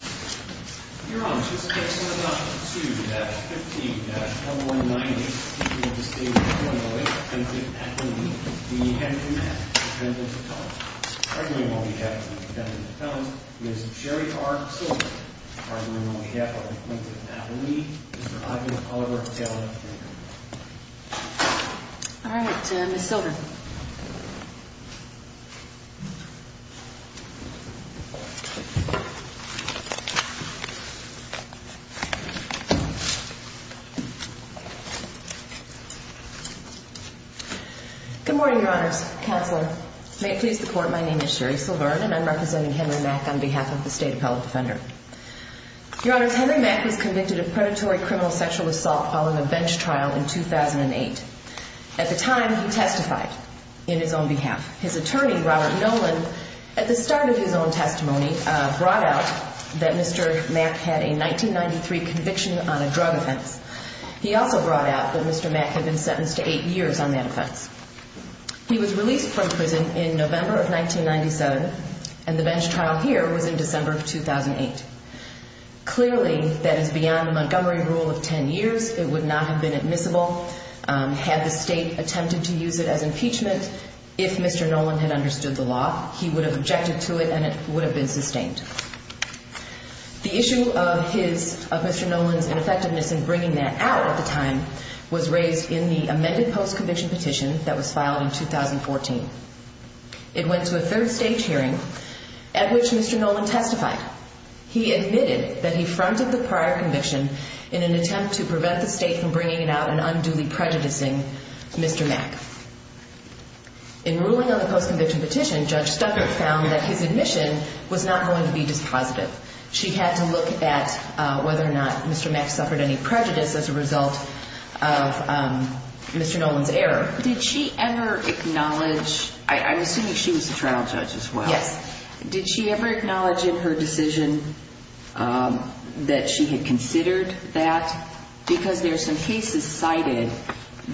Your Honor, this case is 1-2-15-1190 in the state of Illinois, Appalachia, Appalachia. We have two men, both men of color. Arguably on behalf of the defendant's felons, Ms. Sherry R. Silver. Arguably on behalf of the appellant of Appalachia, Mr. Ivan Oliver Taylor. All right, Ms. Silver. Good morning, Your Honors. Counselor, may it please the Court, my name is Sherry Silver and I'm representing Henry Mack on behalf of the State Appellant Defender. Your Honors, Henry Mack was convicted of predatory criminal sexual assault following a bench trial in 2008. At the time, he testified in his own behalf. His attorney, Robert Nolan, at the start of his own testimony, brought out that Mr. Mack had a 1993 conviction on a drug offense. He also brought out that Mr. Mack had been sentenced to eight years on that offense. He was released from prison in November of 1997 and the bench trial here was in December of 2008. Clearly, that is beyond the Montgomery rule of ten years. It would not have been admissible had the state attempted to use it as impeachment if Mr. Nolan had understood the law. He would have objected to it and it would have been sustained. The issue of Mr. Nolan's ineffectiveness in bringing that out at the time was raised in the amended post-conviction petition that was filed in 2014. It went to a third stage hearing at which Mr. Nolan testified. He admitted that he fronted the prior conviction in an attempt to prevent the state from bringing it out and unduly prejudicing Mr. Mack. In ruling on the post-conviction petition, Judge Stuckert found that his admission was not going to be dispositive. She had to look at whether or not Mr. Mack suffered any prejudice as a result of Mr. Nolan's error. Did she ever acknowledge, I'm assuming she was the trial judge as well. Yes. Did she ever acknowledge in her decision that she had considered that? Because there are some cases cited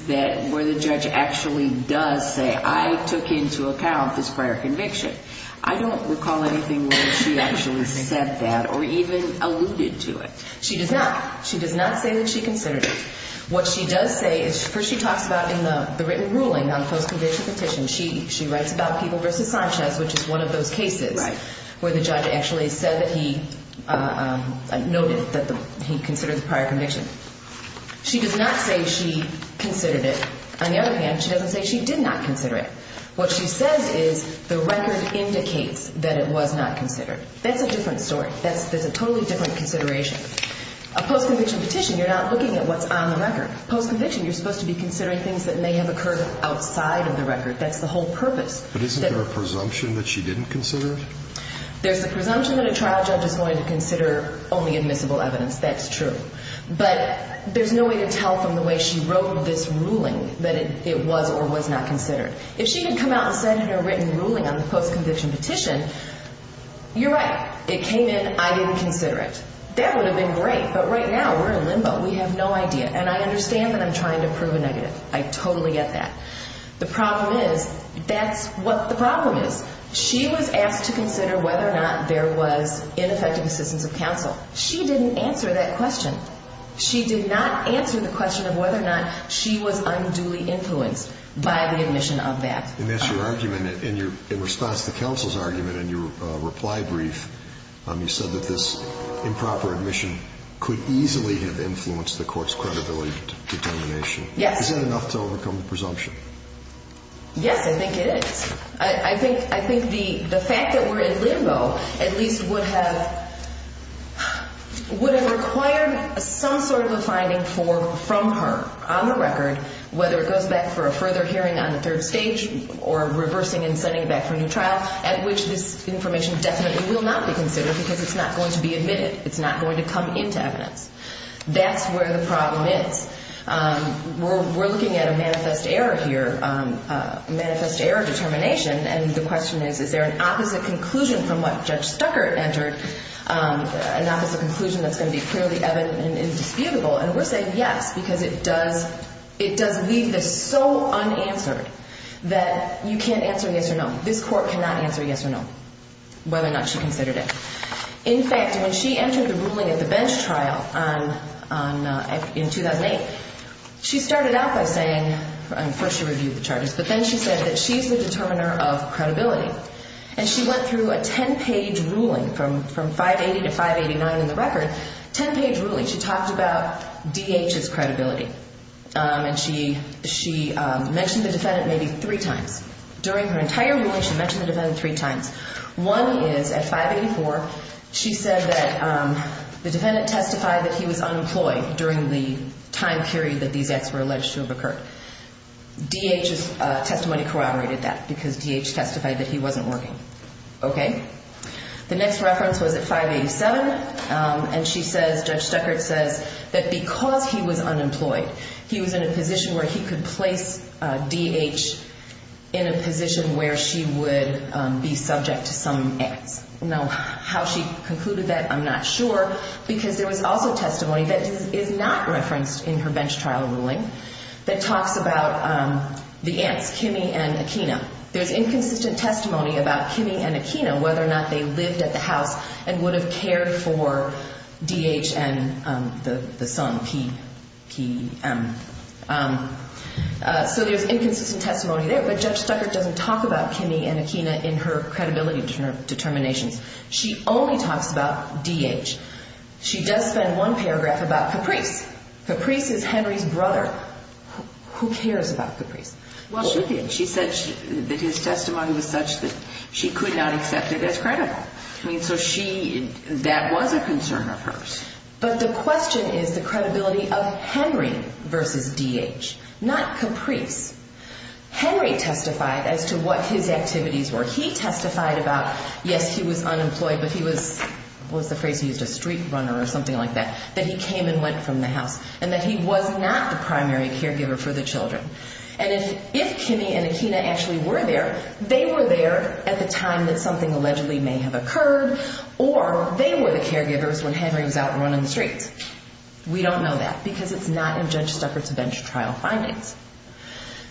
where the judge actually does say, I took into account this prior conviction. I don't recall anything where she actually said that or even alluded to it. She does not. She does not say that she considered it. What she does say is, first she talks about in the written ruling on the post-conviction petition. She writes about People v. Sanchez, which is one of those cases where the judge actually said that he noted that he considered the prior conviction. She does not say she considered it. On the other hand, she doesn't say she did not consider it. What she says is the record indicates that it was not considered. That's a different story. That's a totally different consideration. A post-conviction petition, you're not looking at what's on the record. Post-conviction, you're supposed to be considering things that may have occurred outside of the record. That's the whole purpose. But isn't there a presumption that she didn't consider it? There's a presumption that a trial judge is going to consider only admissible evidence. That's true. But there's no way to tell from the way she wrote this ruling that it was or was not considered. If she had come out and said in her written ruling on the post-conviction petition, you're right. It came in. I didn't consider it. That would have been great. But right now we're in limbo. We have no idea. And I understand that I'm trying to prove a negative. I totally get that. The problem is that's what the problem is. She was asked to consider whether or not there was ineffective assistance of counsel. She didn't answer that question. She did not answer the question of whether or not she was unduly influenced by the admission of that. And that's your argument in response to counsel's argument in your reply brief. You said that this improper admission could easily have influenced the court's credibility determination. Yes. Is that enough to overcome the presumption? Yes, I think it is. I think the fact that we're in limbo at least would have required some sort of a finding from her on the record, whether it goes back for a further hearing on the third stage or reversing and sending it back for a new trial, at which this information definitely will not be considered because it's not going to be admitted. It's not going to come into evidence. That's where the problem is. We're looking at a manifest error here, a manifest error determination. And the question is, is there an opposite conclusion from what Judge Stuckert entered, an opposite conclusion that's going to be clearly evident and indisputable? And we're saying yes because it does leave this so unanswered that you can't answer yes or no. This court cannot answer yes or no, whether or not she considered it. In fact, when she entered the ruling at the bench trial in 2008, she started out by saying, first she reviewed the charges, but then she said that she's the determiner of credibility. And she went through a 10-page ruling from 580 to 589 in the record, 10-page ruling. She talked about DH's credibility. And she mentioned the defendant maybe three times. During her entire ruling, she mentioned the defendant three times. One is at 584, she said that the defendant testified that he was unemployed during the time period that these acts were alleged to have occurred. DH's testimony corroborated that because DH testified that he wasn't working. The next reference was at 587, and Judge Stuckert says that because he was unemployed, he was in a position where he could place DH in a position where she would be subject to some acts. Now, how she concluded that, I'm not sure, because there was also testimony that is not referenced in her bench trial ruling that talks about the aunts, Kimmy and Akina. There's inconsistent testimony about Kimmy and Akina, whether or not they lived at the house and would have cared for DH and the son, PPM. So there's inconsistent testimony there. But Judge Stuckert doesn't talk about Kimmy and Akina in her credibility determinations. She only talks about DH. She does spend one paragraph about Caprice. Caprice is Henry's brother. Who cares about Caprice? Well, she did. She said that his testimony was such that she could not accept it as credible. I mean, so that was a concern of hers. But the question is the credibility of Henry versus DH, not Caprice. Henry testified as to what his activities were. He testified about, yes, he was unemployed, but he was, what was the phrase he used, a street runner or something like that, that he came and went from the house, and that he was not the primary caregiver for the children. And if Kimmy and Akina actually were there, they were there at the time that something allegedly may have occurred, or they were the caregivers when Henry was out running the streets. We don't know that because it's not in Judge Stuckert's bench trial findings.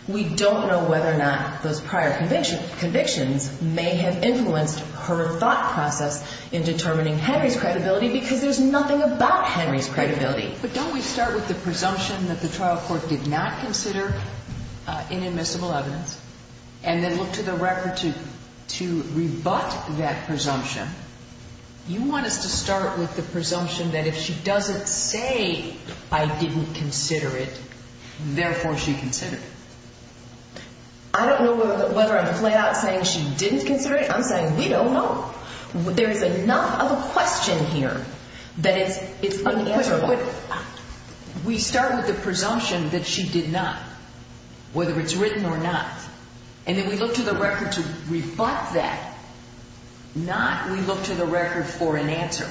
We don't know whether or not those prior convictions may have influenced her thought process in determining Henry's credibility because there's nothing about Henry's credibility. But don't we start with the presumption that the trial court did not consider inadmissible evidence and then look to the record to rebut that presumption? You want us to start with the presumption that if she doesn't say, I didn't consider it, therefore she considered it. I don't know whether I'm flat out saying she didn't consider it. I'm saying we don't know. There is enough of a question here that it's unanswerable. We start with the presumption that she did not, whether it's written or not, and then we look to the record to rebut that, not we look to the record for an answer.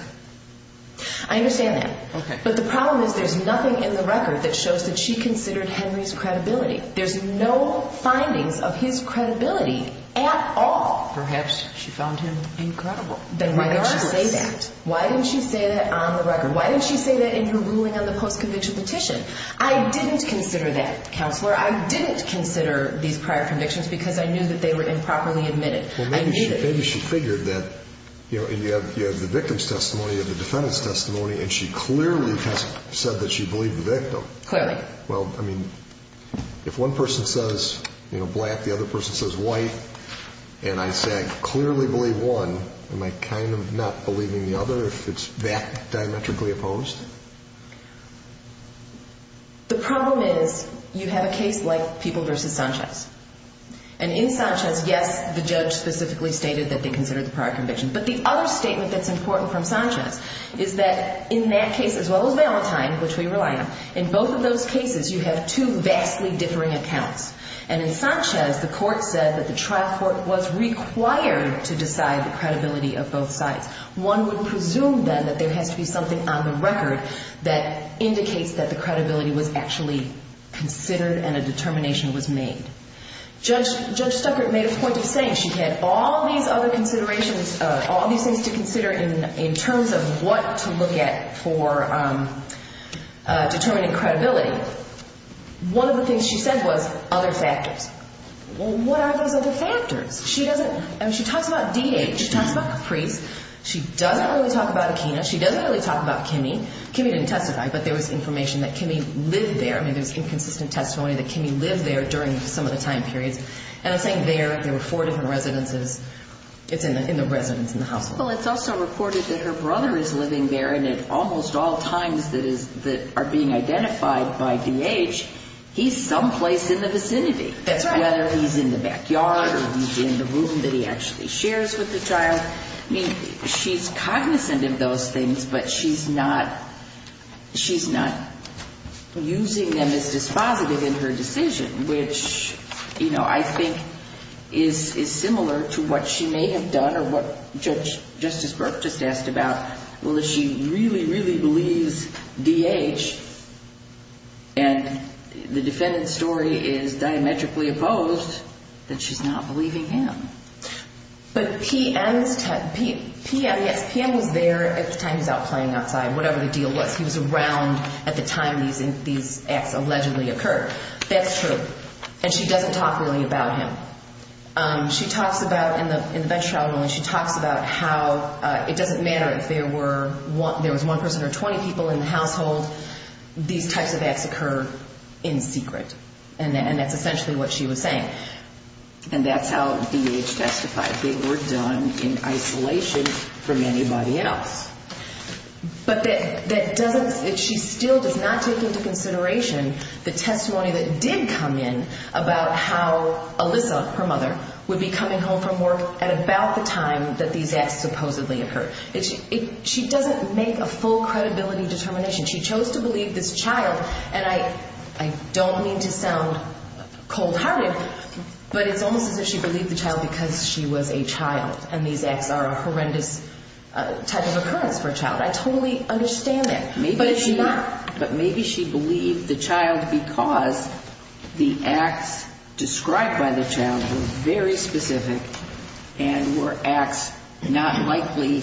I understand that. Okay. But the problem is there's nothing in the record that shows that she considered Henry's credibility. There's no findings of his credibility at all. Perhaps she found him incredible. Then why did she say that? Why didn't she say that on the record? Why didn't she say that in her ruling on the post-conviction petition? I didn't consider that, Counselor. I didn't consider these prior convictions because I knew that they were improperly admitted. Maybe she figured that you have the victim's testimony, you have the defendant's testimony, and she clearly has said that she believed the victim. Clearly. Well, I mean, if one person says black, the other person says white, and I say I clearly believe one, am I kind of not believing the other? I don't know if it's that diametrically opposed. The problem is you have a case like People v. Sanchez. And in Sanchez, yes, the judge specifically stated that they considered the prior conviction. But the other statement that's important from Sanchez is that in that case, as well as Valentine, which we rely on, in both of those cases you have two vastly differing accounts. And in Sanchez, the court said that the trial court was required to decide the credibility of both sides. One would presume, then, that there has to be something on the record that indicates that the credibility was actually considered and a determination was made. Judge Stuckert made a point of saying she had all these other considerations, all these things to consider in terms of what to look at for determining credibility. One of the things she said was other factors. Well, what are these other factors? She talks about D.H. She talks about Caprice. She doesn't really talk about Akina. She doesn't really talk about Kimmy. Kimmy didn't testify, but there was information that Kimmy lived there. I mean, there was inconsistent testimony that Kimmy lived there during some of the time periods. And I'm saying there. There were four different residences. It's in the residence in the household. Well, it's also reported that her brother is living there, and at almost all times that are being identified by D.H., he's someplace in the vicinity. That's right. Whether he's in the backyard or he's in the room that he actually shares with the child. I mean, she's cognizant of those things, but she's not using them as dispositive in her decision, which, you know, I think is similar to what she may have done or what Justice Burke just asked about. Well, if she really, really believes D.H. and the defendant's story is diametrically opposed, then she's not believing him. But P.M. was there at the time he was out playing outside, whatever the deal was. He was around at the time these acts allegedly occurred. That's true. And she doesn't talk really about him. She talks about, in the bench trial ruling, she talks about how it doesn't matter if there was one person or 20 people in the household. These types of acts occur in secret, and that's essentially what she was saying. And that's how D.H. testified. They were done in isolation from anybody else. But that doesn't – she still does not take into consideration the testimony that did come in about how Alyssa, her mother, would be coming home from work at about the time that these acts supposedly occurred. She doesn't make a full credibility determination. She chose to believe this child, and I don't mean to sound cold-hearted, but it's almost as if she believed the child because she was a child and these acts are a horrendous type of occurrence for a child. I totally understand that. But is she not? But maybe she believed the child because the acts described by the child were very specific and were acts not likely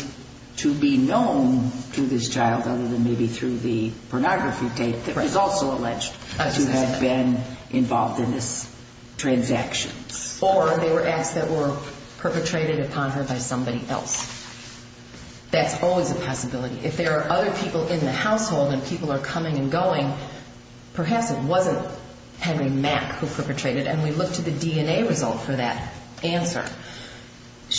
to be known to this child other than maybe through the pornography tape that was also alleged. To have been involved in these transactions. Or they were acts that were perpetrated upon her by somebody else. That's always a possibility. If there are other people in the household and people are coming and going, perhaps it wasn't Henry Mack who perpetrated, and we look to the DNA result for that answer.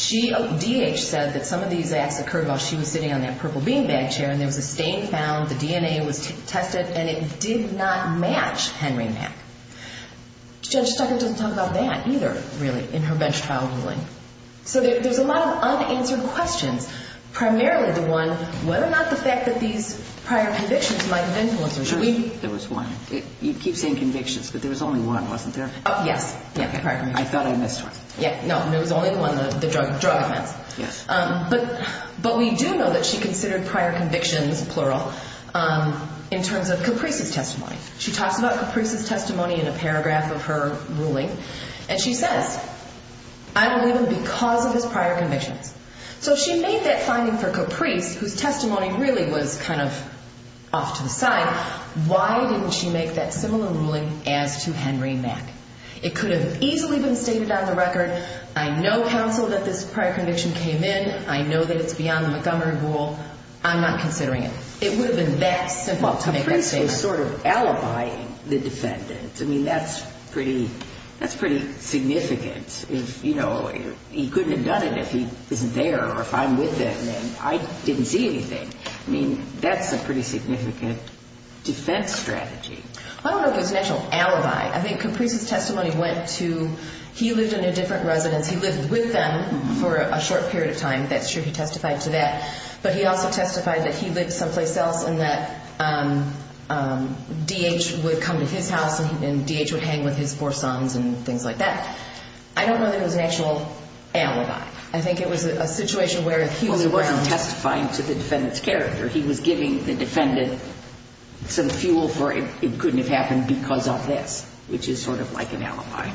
D.H. said that some of these acts occurred while she was sitting on that purple beanbag chair, and there was a stain found, the DNA was tested, and it did not match Henry Mack. Judge Steckler doesn't talk about that either, really, in her bench trial ruling. So there's a lot of unanswered questions, primarily the one whether or not the fact that these prior convictions might have influenced her. There was one. You keep saying convictions, but there was only one, wasn't there? Yes. I thought I missed one. No, there was only one, the drug offense. But we do know that she considered prior convictions, plural, in terms of Caprice's testimony. She talks about Caprice's testimony in a paragraph of her ruling, and she says, I believe him because of his prior convictions. So if she made that finding for Caprice, whose testimony really was kind of off to the side, why didn't she make that similar ruling as to Henry Mack? It could have easily been stated on the record, I know, counsel, that this prior conviction came in. I know that it's beyond the Montgomery rule. I'm not considering it. It would have been that simple to make that statement. Well, Caprice was sort of alibying the defendant. I mean, that's pretty significant. You know, he couldn't have done it if he isn't there or if I'm with him, and I didn't see anything. I mean, that's a pretty significant defense strategy. I don't know if it was an actual alibi. I think Caprice's testimony went to he lived in a different residence. He lived with them for a short period of time. That's true. He testified to that. But he also testified that he lived someplace else and that D.H. would come to his house and D.H. would hang with his four sons and things like that. I don't know that it was an actual alibi. I think it was a situation where he was around. Well, he wasn't testifying to the defendant's character. He was giving the defendant some fuel for it couldn't have happened because of this, which is sort of like an alibi.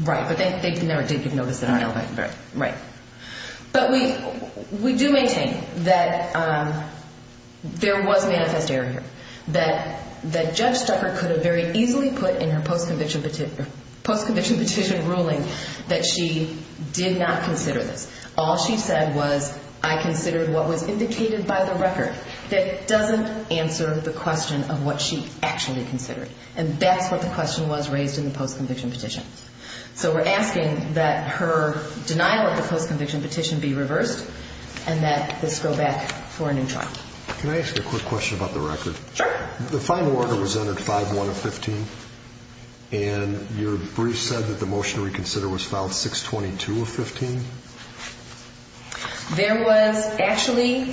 Right. But they never did give notice of an alibi. Right. But we do maintain that there was manifest error here, that Judge Stucker could have very easily put in her post-conviction petition ruling that she did not consider this. All she said was, I considered what was indicated by the record. That doesn't answer the question of what she actually considered. And that's what the question was raised in the post-conviction petition. So we're asking that her denial of the post-conviction petition be reversed and that this go back for a new trial. Can I ask you a quick question about the record? Sure. The final order was entered 5-1 of 15, and your brief said that the motion to reconsider was filed 6-22 of 15. There was actually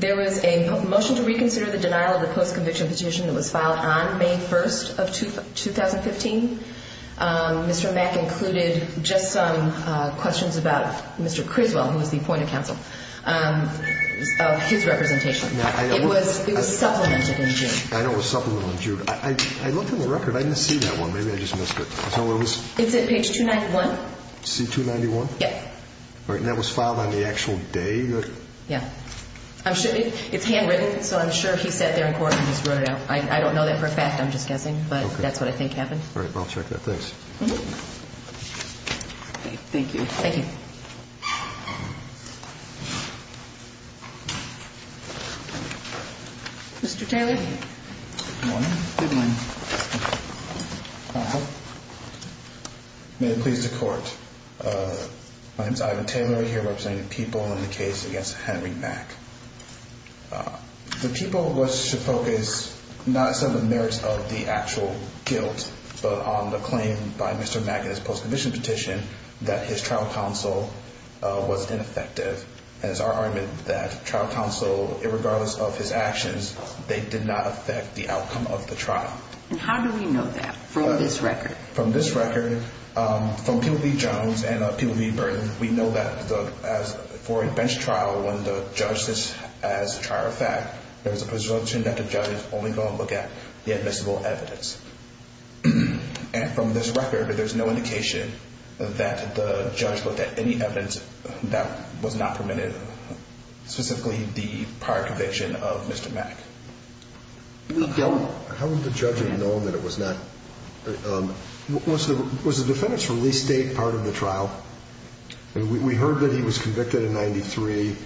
a motion to reconsider the denial of the post-conviction petition that was filed on May 1st of 2015. Mr. Mack included just some questions about Mr. Criswell, who was the appointed counsel, of his representation. It was supplemented in June. I know it was supplemented in June. I looked in the record. I didn't see that one. Maybe I just missed it. Is that where it was? It's at page 291. C-291? Yes. And that was filed on the actual day? Yes. It's handwritten, so I'm sure he sat there in court and just wrote it out. I don't know that for a fact. I'm just guessing. All right. Well, I'll check that. Thanks. Thank you. Thank you. Mr. Taylor. Good morning. Good morning. May it please the Court. My name is Ivan Taylor. I'm here representing the people in the case against Henry Mack. The people was to focus not on the merits of the actual guilt, but on the claim by Mr. Mack in his post-conviction petition that his trial but on the claim by Mr. Mack in his post-conviction petition that his trial was ineffective. And it's our argument that trial counsel, regardless of his actions, they did not affect the outcome of the trial. And how do we know that from this record? From this record, from People v. Jones and People v. Burton, we know that for a bench trial, when the judge says as a trial fact, there's a presumption that the judge is only going to look at the admissible evidence. And from this record, there's no indication that the judge looked at any evidence that was not permitted, specifically the prior conviction of Mr. Mack. How would the judge have known that it was not? Was the defendant's release date part of the trial? We heard that he was convicted in 93.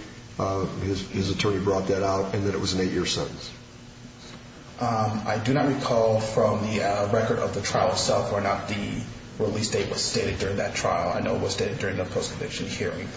His attorney brought that out and that it was an eight-year sentence. I do not recall from the record of the trial itself or not the release date was stated during that trial. I know it was stated during the post-conviction hearing,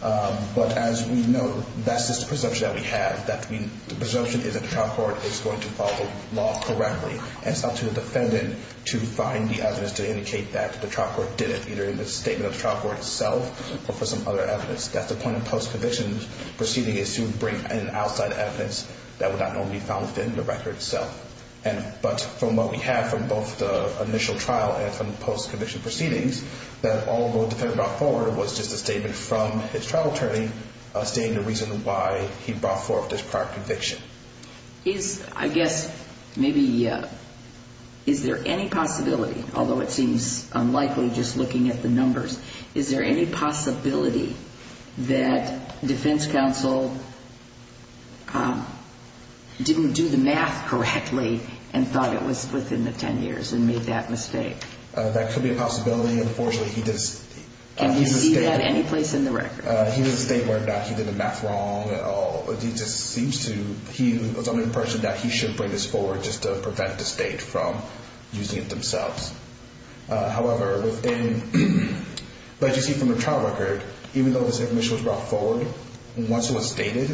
but as we know, that's the presumption that we have. The presumption is that the trial court is going to follow the law correctly and it's up to the defendant to find the evidence to indicate that the trial court did it, either in the statement of the trial court itself or for some other evidence. That's the point of post-conviction proceedings is to bring in outside evidence that would not normally be found within the record itself. From what we have from both the initial trial and from the post-conviction proceedings, that all the defendant brought forward was just a statement from his trial attorney stating the reason why he brought forth this prior conviction. Is there any possibility, although it seems unlikely just looking at the numbers, is there any possibility that defense counsel didn't do the math correctly and thought it was within the 10 years and made that mistake? That could be a possibility, unfortunately. Can you see that any place in the record? He didn't state where or not he did the math wrong at all. He just seems to, he was the only person that he should bring this forward just to prevent the state from using it themselves. However, as you see from the trial record, even though this information was brought forward, once it was stated,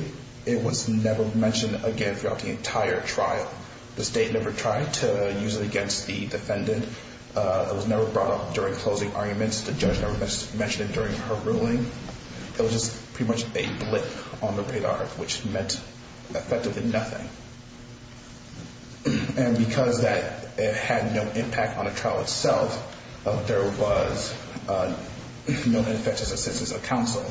it was never mentioned again throughout the entire trial. The state never tried to use it against the defendant. It was never brought up during closing arguments. The judge never mentioned it during her ruling. It was just pretty much a blip on the radar, which meant effectively nothing. And because that had no impact on the trial itself, there was no ineffective assistance of counsel.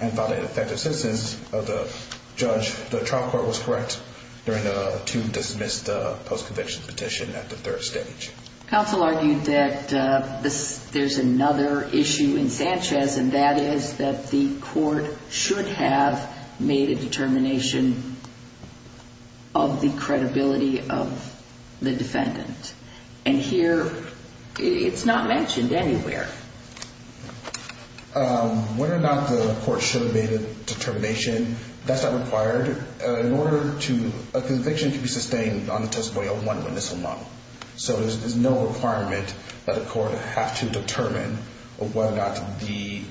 And by the ineffective assistance of the judge, the trial court was correct to dismiss the post-conviction petition at the third stage. Counsel argued that there's another issue in Sanchez, and that is that the court should have made a determination of the credibility of the defendant. And here, it's not mentioned anywhere. Whether or not the court should have made a determination, that's not required. In order to – a conviction can be sustained on the testimony of one witness alone. So there's no requirement that a court have to determine whether or not the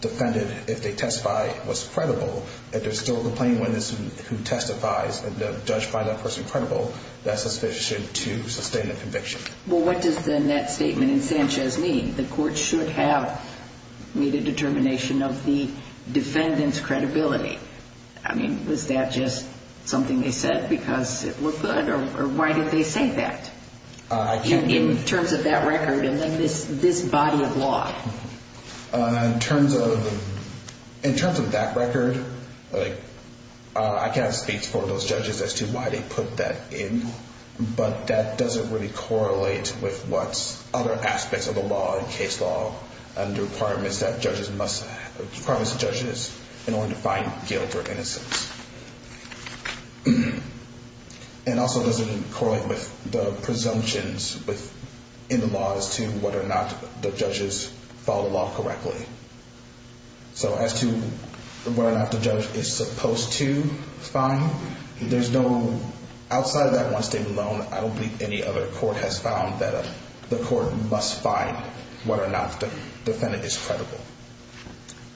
defendant, if they testify, was credible. If there's still a complaining witness who testifies and the judge finds that person credible, that's sufficient to sustain the conviction. Well, what does then that statement in Sanchez mean? The court should have made a determination of the defendant's credibility. I mean, was that just something they said because it looked good, or why did they say that in terms of that record and then this body of law? In terms of that record, I can't speak for those judges as to why they put that statement in, but that doesn't really correlate with what other aspects of the law and case law and the requirements that judges must – requirements that judges in order to find guilt or innocence. And also doesn't correlate with the presumptions in the law as to whether or not the judges follow the law correctly. So as to whether or not the judge is supposed to find, there's no – outside of that one statement alone, I don't believe any other court has found that the court must find whether or not the defendant is credible.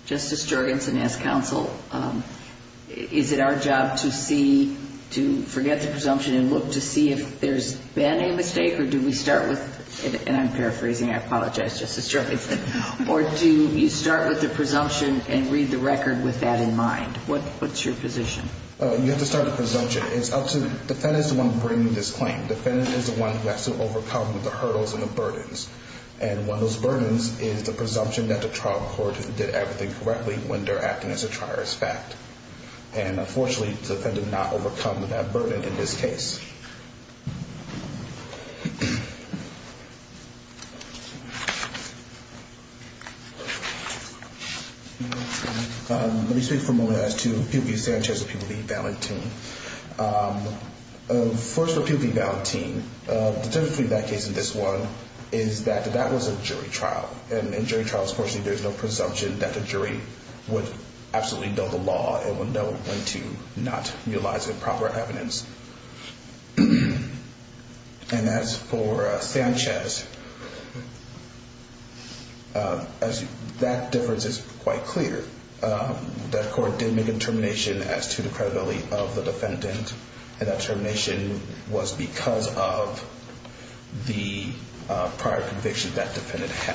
Justice Jorgensen, as counsel, is it our job to see – to forget the presumption and look to see if there's been a mistake, or do we start with – and I'm You start with the presumption and read the record with that in mind. What's your position? You have to start with the presumption. It's up to – the defendant is the one bringing this claim. The defendant is the one who has to overcome the hurdles and the burdens. And one of those burdens is the presumption that the trial court did everything correctly when they're acting as a triarist fact. And unfortunately, the defendant did not overcome that burden in this case. Let me speak for a moment as to People v. Sanchez or People v. Valentin. First, for People v. Valentin, the difference between that case and this one is that that was a jury trial. And in jury trials, unfortunately, there's no presumption that the jury would absolutely know the law and would know when to not utilize improper evidence. And as for Sanchez, that difference is quite clear. That court did make a termination as to the credibility of the defendant. And that termination was because of the prior convictions that defendant had. Thank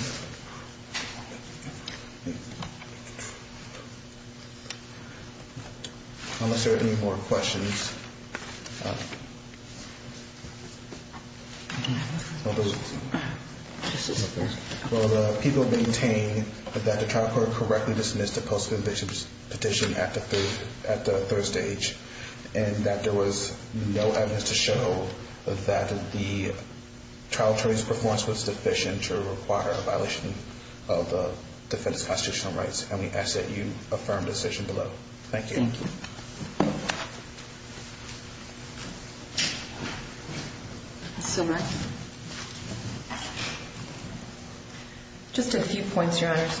you. Unless there are any more questions. Well, People maintain that the trial court correctly dismissed the post-conviction petition at the third stage and that there was no evidence to show that the trial jury's performance was deficient or required a violation of the defendant's constitutional rights. And we ask that you affirm the decision below. Thank you. Thank you. Just a few points, Your Honors.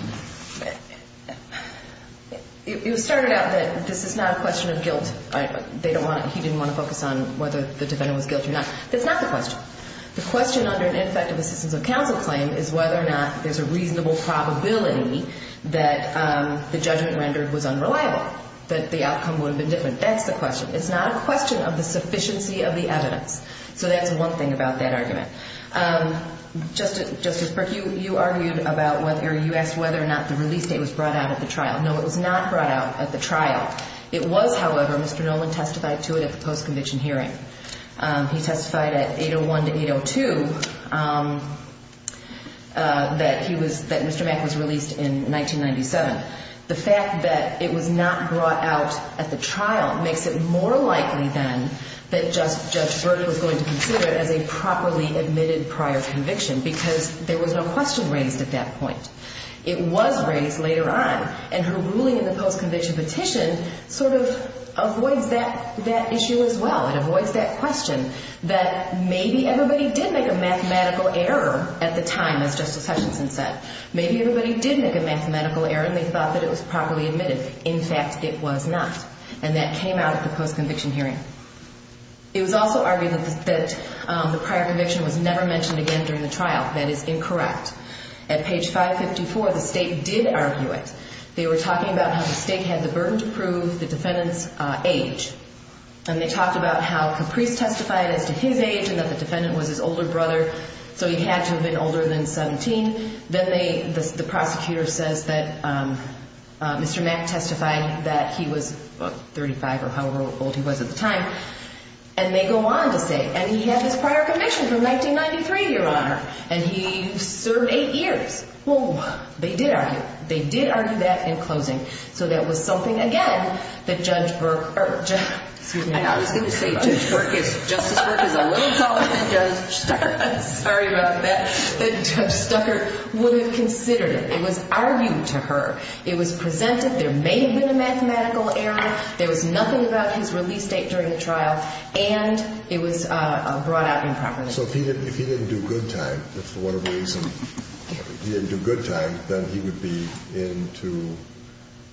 It was started out that this is not a question of guilt. He didn't want to focus on whether the defendant was guilty or not. That's not the question. The question under an ineffective assistance of counsel claim is whether or not there's a reasonable probability that the judgment rendered was unreliable, that the outcome would have been different. That's the question. It's not a question of the sufficiency of the evidence. So that's one thing about that argument. Justice Burke, you argued about whether or not the release date was brought out at the trial. No, it was not brought out at the trial. It was, however, Mr. Noland testified to it at the post-conviction hearing. He testified at 801 to 802 that Mr. Mack was released in 1997. The fact that it was not brought out at the trial makes it more likely, then, that Judge Burke was going to consider it as a properly admitted prior conviction because there was no question raised at that point. It was raised later on. And her ruling in the post-conviction petition sort of avoids that issue as well. It avoids that question that maybe everybody did make a mathematical error at the time, as Justice Hutchinson said. Maybe everybody did make a mathematical error and they thought that it was properly admitted. In fact, it was not, and that came out at the post-conviction hearing. It was also argued that the prior conviction was never mentioned again during the trial. That is incorrect. At page 554, the State did argue it. They were talking about how the State had the burden to prove the defendant's age, and they talked about how Caprice testified as to his age and that the defendant was his older brother, so he had to have been older than 17. Then the prosecutor says that Mr. Mack testified that he was 35 or however old he was at the time, and they go on to say, and he had this prior conviction from 1993, Your Honor, and he served eight years. Whoa. They did argue. They did argue that in closing. So that was something, again, that Judge Burke, or excuse me. I was going to say Justice Burke is a little taller than Judge Stuckert. I'm sorry about that. That Judge Stuckert wouldn't have considered it. It was argued to her. It was presented. There may have been a mathematical error. There was nothing about his release date during the trial, and it was brought out improperly. So if he didn't do good time, if for whatever reason he didn't do good time, then he would be in to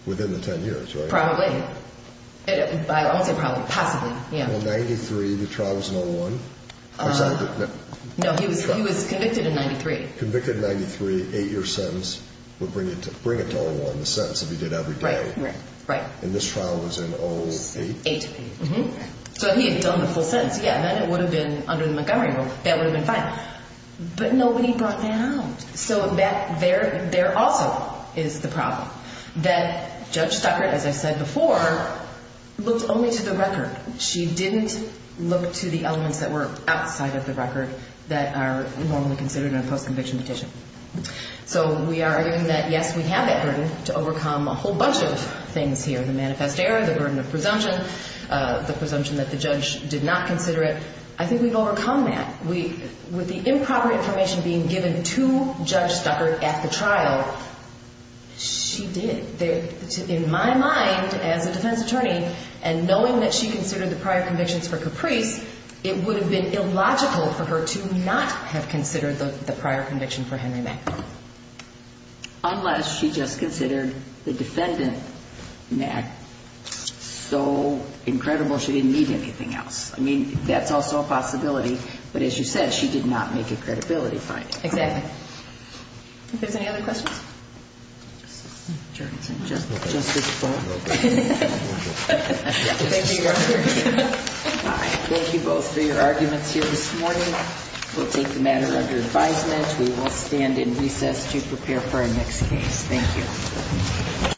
within the 10 years, right? Probably. I won't say probably. Possibly, yeah. Well, 93, the trial was in 01. No, he was convicted in 93. Convicted in 93, eight-year sentence would bring it to 01, the sentence if he did every day. Right, right. And this trial was in 08? 08. So he had done the full sentence, yeah, and then it would have been under the Montgomery rule. That would have been fine. But nobody brought that out. So there also is the problem that Judge Stuckert, as I said before, looked only to the record. She didn't look to the elements that were outside of the record that are normally considered in a post-conviction petition. So we are arguing that, yes, we have that burden to overcome a whole bunch of things here, the manifest error, the burden of presumption, the presumption that the judge did not consider it. I think we've overcome that. With the improper information being given to Judge Stuckert at the trial, she did. In my mind, as a defense attorney, and knowing that she considered the prior convictions for Caprice, it would have been illogical for her to not have considered the prior conviction for Henry Mack. Unless she just considered the defendant, Mack, so incredible she didn't need anything else. I mean, that's also a possibility. But as you said, she did not make a credibility finding. Exactly. If there's any other questions? Justice Jorgensen. Justice Bowe. Thank you, Your Honor. Thank you both for your arguments here this morning. We'll take the matter under advisement. We will stand in recess to prepare for our next case. Thank you.